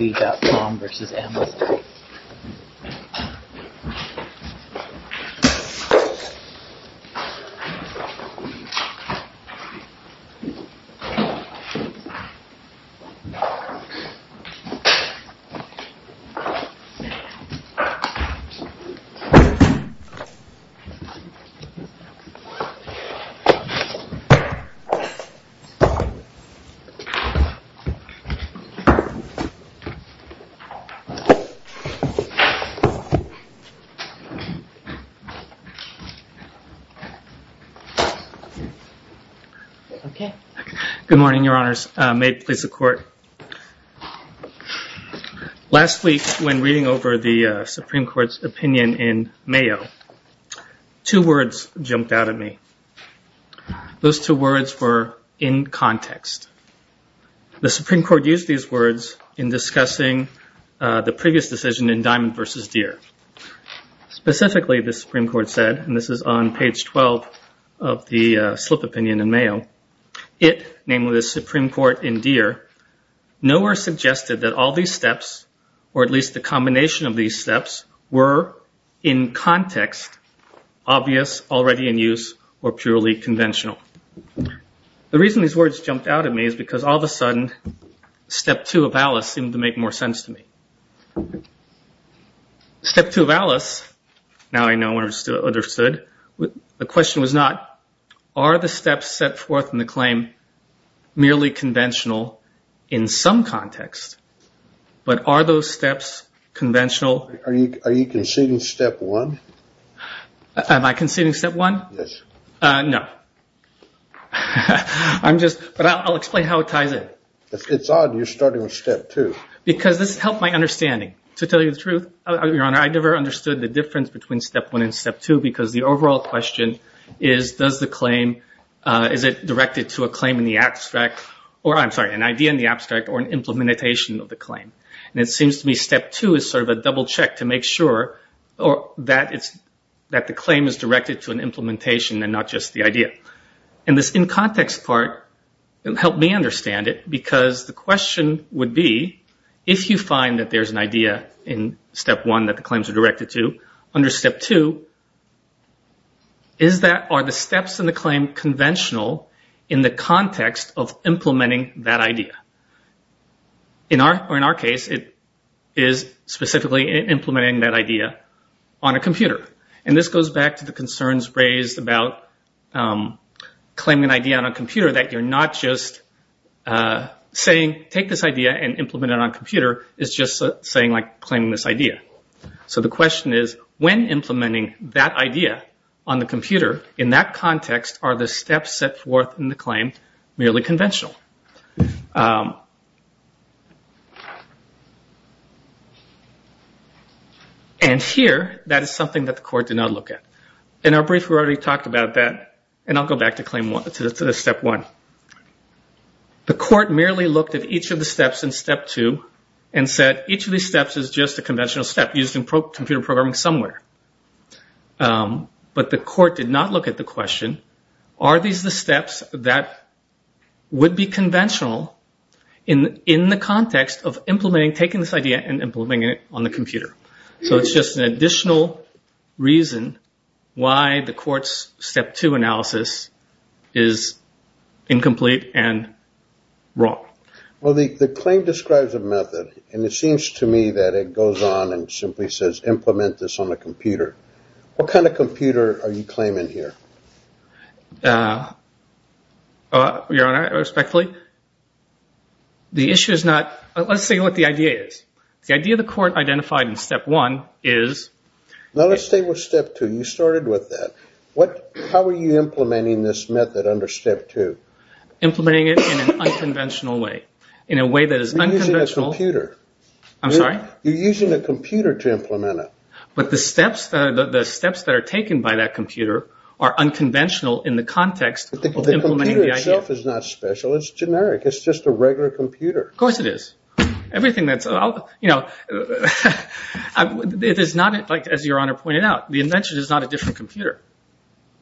Amazon.com v. Amazon.com Last week when reading over the Supreme Court's opinion in Mayo, two words jumped out at me. Those two words were, in context. The Supreme Court used these words in discussing the previous decision in Diamond v. Deere. Specifically, the Supreme Court said, and this is on page 12 of the slip opinion in Mayo, it, namely the Supreme Court in Deere, nowhere suggested that all these steps, or at least the combination of these steps, were, in context, obvious, already in use, or purely conventional. The reason these words jumped out at me is because all of a sudden, Step 2 of Alice seemed to make more sense to me. Step 2 of Alice, now I know and understood, the question was not, are the steps set forth in the claim merely conventional in some context, but are those steps conventional? Are you conceding Step 1? Am I conceding Step 1? Yes. No. I'm just, but I'll explain how it ties in. It's odd you're starting with Step 2. Because this helped my understanding. To tell you the truth, Your Honor, I never understood the difference between Step 1 and Step 2 because the overall question is, does the claim, is it directed to a claim in the abstract, or I'm sorry, an idea in the abstract or an implementation of the claim. And it seems to me Step 2 is sort of a double check to make sure that the claim is directed to an implementation and not just the idea. And this in-context part helped me understand it because the question would be, if you find that there's an idea in Step 1 that the claims are directed to, under Step 2, are the steps in the claim conventional in the context of implementing that idea? In our case, it is specifically implementing that idea on a computer. And this goes back to the concerns raised about claiming an idea on a computer, that you're not just saying take this idea and implement it on a computer. It's just saying like claiming this idea. So the question is, when implementing that idea on the computer, in that context, are the steps set forth in the claim merely conventional? And here, that is something that the court did not look at. In our brief, we already talked about that. And I'll go back to Step 1. The court merely looked at each of the steps in Step 2 and said, each of these steps is just a conventional step used in computer programming somewhere. But the court did not look at the question, are these the steps that would be conventional in the context of implementing, taking this idea and implementing it on the computer? So it's just an additional reason why the court's Step 2 analysis is incomplete and wrong. Well, the claim describes a method, and it seems to me that it goes on and simply says implement this on a computer. What kind of computer are you claiming here? Your Honor, respectfully, the issue is not – let's say what the idea is. The idea the court identified in Step 1 is – No, let's stay with Step 2. You started with that. How are you implementing this method under Step 2? Implementing it in an unconventional way. In a way that is unconventional – You're using a computer. I'm sorry? You're using a computer to implement it. But the steps that are taken by that computer are unconventional in the context of implementing the idea. But the computer itself is not special. It's generic. It's just a regular computer. Of course it is. Everything that's – you know, it is not, as Your Honor pointed out, the invention is not a different computer.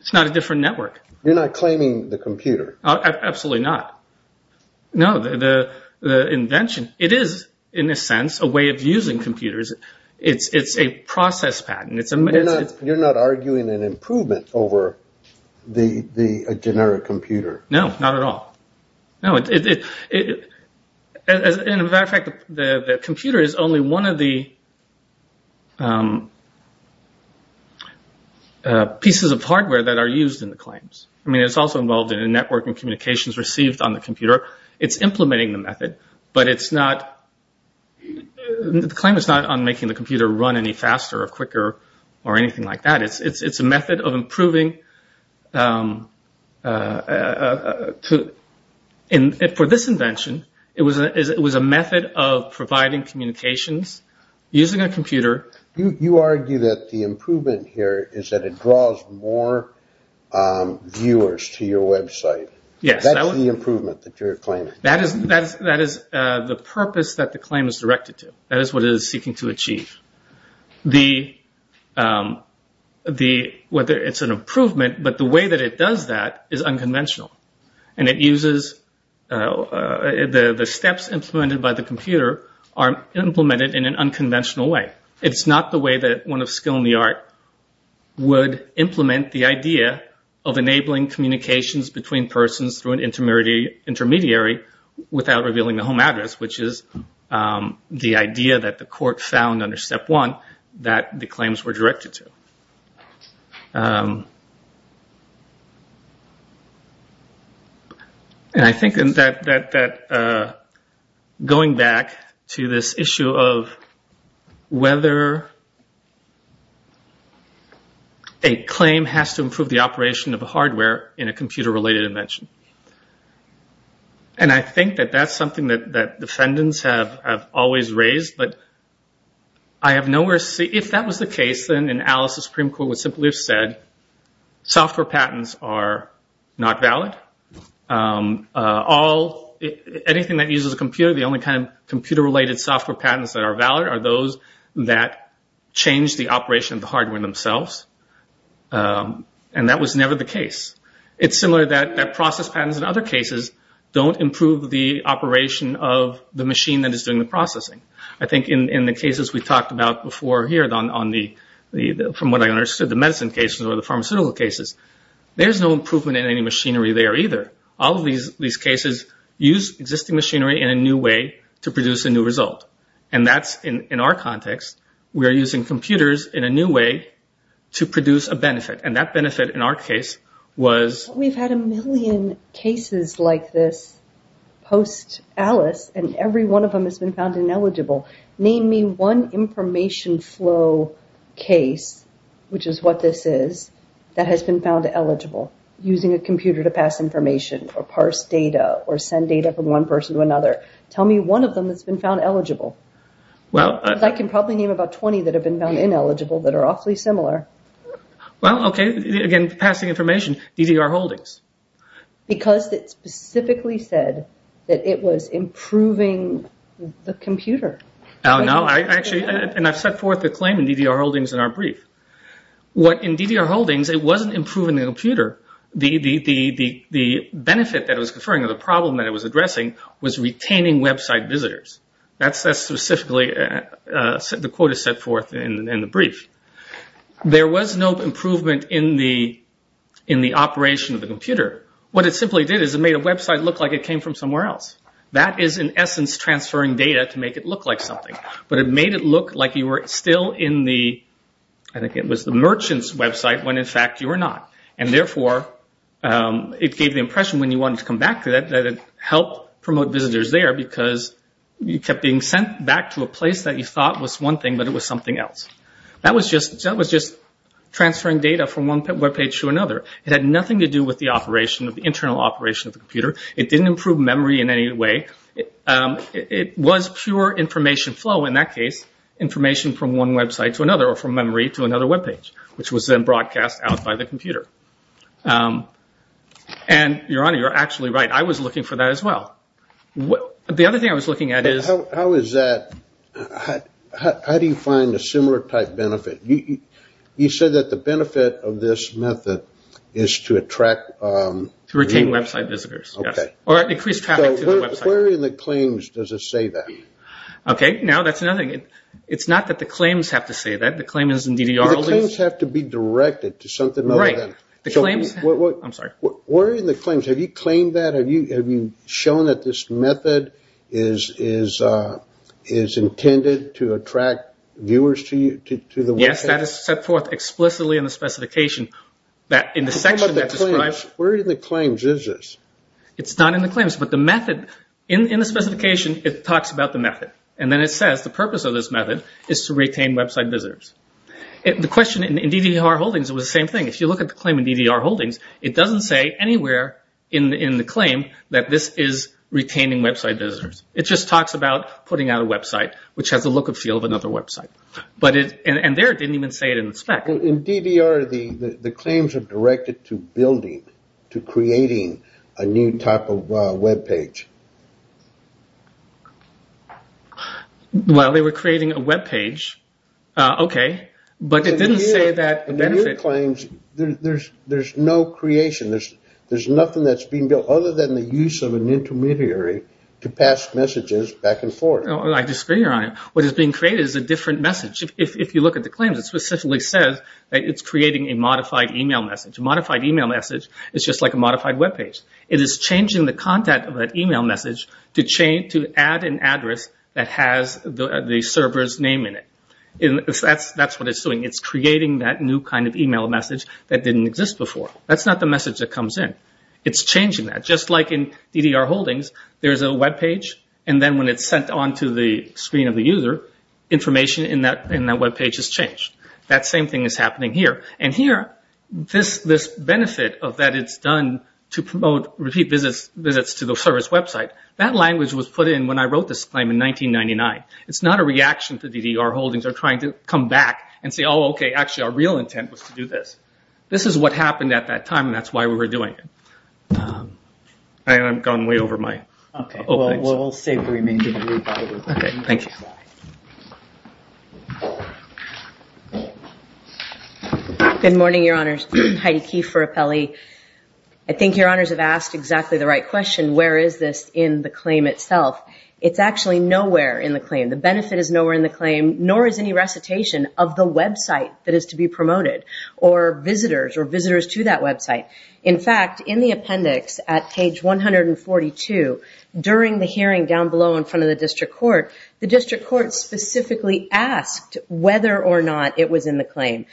It's not a different network. You're not claiming the computer. Absolutely not. No, the invention – it is, in a sense, a way of using computers. It's a process pattern. You're not arguing an improvement over the generic computer. No, not at all. No, it – as a matter of fact, the computer is only one of the pieces of hardware that are used in the claims. I mean, it's also involved in a network and communications received on the computer. It's implementing the method. But it's not – the claim is not on making the computer run any faster or quicker or anything like that. It's a method of improving – for this invention, it was a method of providing communications using a computer. You argue that the improvement here is that it draws more viewers to your website. Yes. That's the improvement that you're claiming. That is the purpose that the claim is directed to. That is what it is seeking to achieve. The – whether it's an improvement, but the way that it does that is unconventional. And it uses – the steps implemented by the computer are implemented in an unconventional way. It's not the way that one of skill in the art would implement the idea of enabling communications between persons through an intermediary without revealing the home address, which is the idea that the court found under Step 1 that the claims were directed to. And I think that going back to this issue of whether a claim has to improve the operation of a hardware in a computer-related invention. And I think that that's something that defendants have always raised. But I have nowhere to see – if that was the case, then an Alice Supreme Court would simply have said software patents are not valid. All – anything that uses a computer, the only kind of computer-related software patents that are valid are those that change the operation of the hardware themselves. And that was never the case. It's similar that process patents in other cases don't improve the operation of the machine that is doing the processing. I think in the cases we talked about before here on the – from what I understood, the medicine cases or the pharmaceutical cases, there's no improvement in any machinery there either. All of these cases use existing machinery in a new way to produce a new result. And that's in our context. We are using computers in a new way to produce a benefit. And that benefit in our case was – Name me one information flow case, which is what this is, that has been found eligible using a computer to pass information or parse data or send data from one person to another. Tell me one of them that's been found eligible. Well – Because I can probably name about 20 that have been found ineligible that are awfully similar. Well, okay. Again, passing information, DDR holdings. Because it specifically said that it was improving the computer. Oh, no. I actually – and I've set forth the claim in DDR holdings in our brief. What in DDR holdings, it wasn't improving the computer. The benefit that it was conferring or the problem that it was addressing was retaining website visitors. That's specifically – the quote is set forth in the brief. There was no improvement in the operation of the computer. What it simply did is it made a website look like it came from somewhere else. That is, in essence, transferring data to make it look like something. But it made it look like you were still in the – I think it was the merchant's website when, in fact, you were not. And, therefore, it gave the impression when you wanted to come back to it that it helped promote visitors there because you kept being sent back to a place that you thought was one thing but it was something else. That was just transferring data from one webpage to another. It had nothing to do with the operation, the internal operation of the computer. It didn't improve memory in any way. It was pure information flow, in that case, information from one website to another or from memory to another webpage, which was then broadcast out by the computer. And, Your Honor, you're actually right. I was looking for that as well. The other thing I was looking at is – How is that – how do you find a similar type benefit? You said that the benefit of this method is to attract – To retain website visitors. Okay. Or increase traffic to the website. Where in the claims does it say that? Okay, now that's another – it's not that the claims have to say that. The claim is in DDR – The claims have to be directed to something other than – Right. The claims – I'm sorry. Where in the claims – have you claimed that? Have you shown that this method is intended to attract viewers to the webpage? Yes, that is set forth explicitly in the specification. In the section that describes – What about the claims? Where in the claims is this? It's not in the claims. But the method – in the specification, it talks about the method. And then it says the purpose of this method is to retain website visitors. The question in DDR holdings, it was the same thing. If you look at the claim in DDR holdings, it doesn't say anywhere in the claim that this is retaining website visitors. It just talks about putting out a website, which has the look and feel of another website. And there it didn't even say it in the spec. In DDR, the claims are directed to building, to creating a new type of webpage. Well, they were creating a webpage. Okay. But it didn't say that the benefit – There's no creation. There's nothing that's being built other than the use of an intermediary to pass messages back and forth. I disagree, Your Honor. What is being created is a different message. If you look at the claims, it specifically says that it's creating a modified email message. A modified email message is just like a modified webpage. It is changing the content of that email message to add an address that has the server's name in it. That's what it's doing. It's creating that new kind of email message that didn't exist before. That's not the message that comes in. It's changing that. Just like in DDR holdings, there's a webpage. And then when it's sent on to the screen of the user, information in that webpage is changed. That same thing is happening here. And here, this benefit of that it's done to promote repeat visits to the server's website, that language was put in when I wrote this claim in 1999. It's not a reaction to DDR holdings. They're trying to come back and say, oh, okay, actually our real intent was to do this. This is what happened at that time, and that's why we were doing it. And I've gone way over my opening. Okay. Well, we'll save the remainder for later. Okay. Thank you. Good morning, Your Honors. Heidi Keefe for Apelli. I think Your Honors have asked exactly the right question, where is this in the claim itself? It's actually nowhere in the claim. The benefit is nowhere in the claim, nor is any recitation of the website that is to be promoted, or visitors, or visitors to that website. In fact, in the appendix at page 142, during the hearing down below in front of the district court, the district court specifically asked whether or not it was in the claim.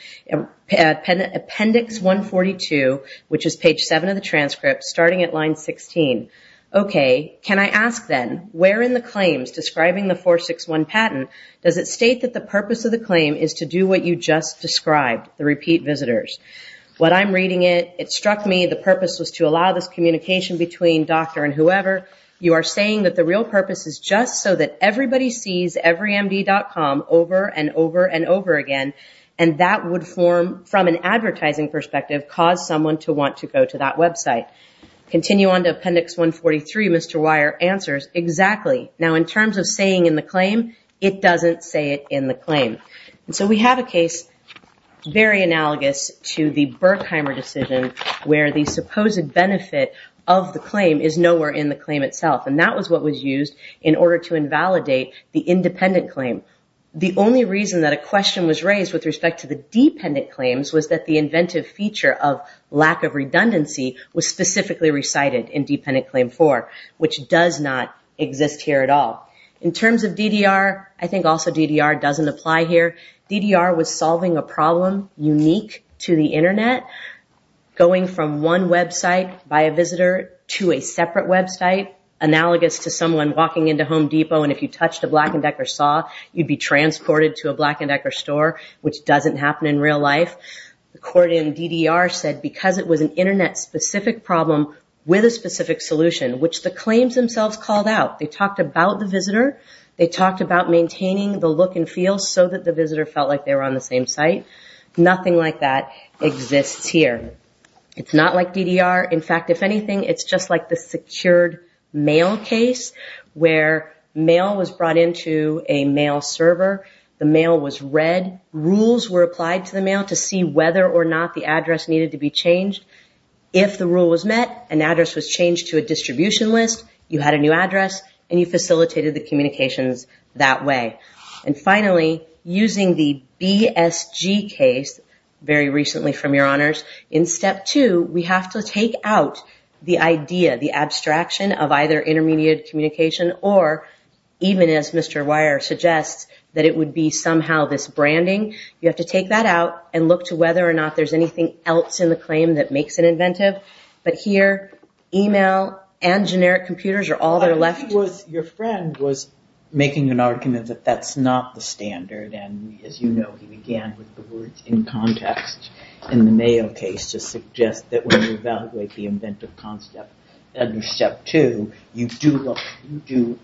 Appendix 142, which is page 7 of the transcript, starting at line 16. Okay. Can I ask then, where in the claims describing the 461 patent, does it state that the purpose of the claim is to do what you just described, the repeat visitors? What I'm reading it, it struck me the purpose was to allow this communication between doctor and whoever. You are saying that the real purpose is just so that everybody sees everymd.com over and over and over again, and that would form, from an advertising perspective, cause someone to want to go to that website. Continue on to appendix 143. Mr. Weyer answers, exactly. Now, in terms of saying in the claim, it doesn't say it in the claim. And so we have a case very analogous to the Berkheimer decision, where the supposed benefit of the claim is nowhere in the claim itself, and that was what was used in order to invalidate the independent claim. The only reason that a question was raised with respect to the dependent claims was that the inventive feature of lack of redundancy was specifically recited in dependent claim 4, which does not exist here at all. In terms of DDR, I think also DDR doesn't apply here. DDR was solving a problem unique to the Internet, going from one website by a visitor to a separate website, analogous to someone walking into Home Depot, and if you touched a Black & Decker saw, you'd be transported to a Black & Decker store, which doesn't happen in real life. The court in DDR said because it was an Internet-specific problem with a specific solution, which the claims themselves called out, they talked about the visitor, they talked about maintaining the look and feel so that the visitor felt like they were on the same site, nothing like that exists here. It's not like DDR. In fact, if anything, it's just like the secured mail case, where mail was brought into a mail server, the mail was read, rules were applied to the mail to see whether or not the address needed to be changed. If the rule was met, an address was changed to a distribution list, you had a new address, and you facilitated the communications that way. And finally, using the BSG case, very recently from your honors, in step 2, we have to take out the idea, the abstraction of either intermediate communication or, even as Mr. Weier suggests, that it would be somehow this branding. You have to take that out and look to whether or not there's anything else in the claim that makes it inventive. But here, email and generic computers are all that are left. Your friend was making an argument that that's not the standard, and as you know, he began with the words in context in the mail case to suggest that when you evaluate the inventive concept under step 2, you do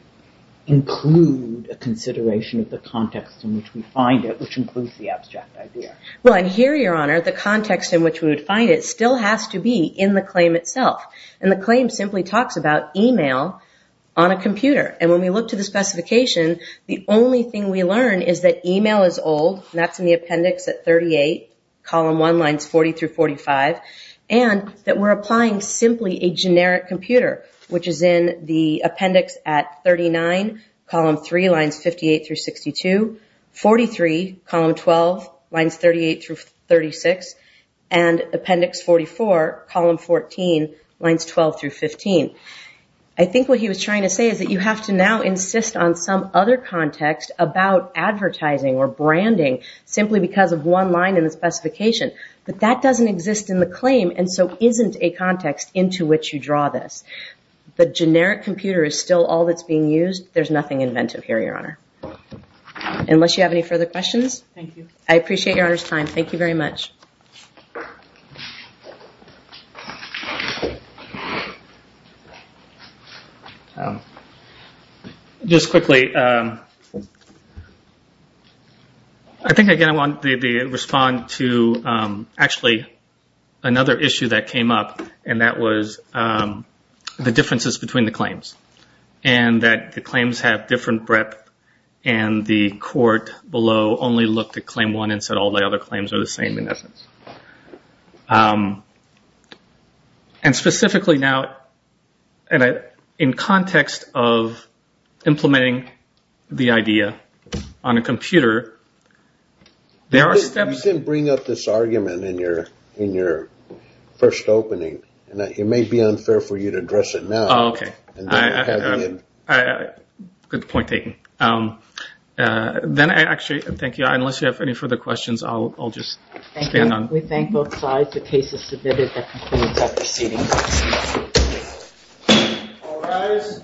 include a consideration of the context in which we find it, which includes the abstract idea. Well, and here, your honor, the context in which we would find it still has to be in the claim itself. And the claim simply talks about email on a computer. And when we look to the specification, the only thing we learn is that email is old, and that's in the appendix at 38, column 1 lines 40 through 45, and that we're applying simply a generic computer, which is in the appendix at 39, column 3 lines 58 through 62, 43, column 12, lines 38 through 36, and appendix 44, column 14, lines 12 through 15. I think what he was trying to say is that you have to now insist on some other context about advertising or branding simply because of one line in the specification. But that doesn't exist in the claim and so isn't a context into which you draw this. The generic computer is still all that's being used. There's nothing inventive here, your honor, unless you have any further questions. Thank you. I appreciate your honor's time. Thank you very much. Just quickly, I think again I want to respond to actually another issue that came up, and that was the differences between the claims, and that the claims have different breadth and the court below only looked at claim one and said all the other claims are the same in essence. And specifically now, in context of implementing the idea on a computer, there are steps. You didn't bring up this argument in your first opening. It may be unfair for you to address it now. Oh, okay. Good point taken. Then I actually thank you. Unless you have any further questions, I'll just stand on. Thank you. We thank both sides. The case is submitted. That concludes our proceeding. All rise.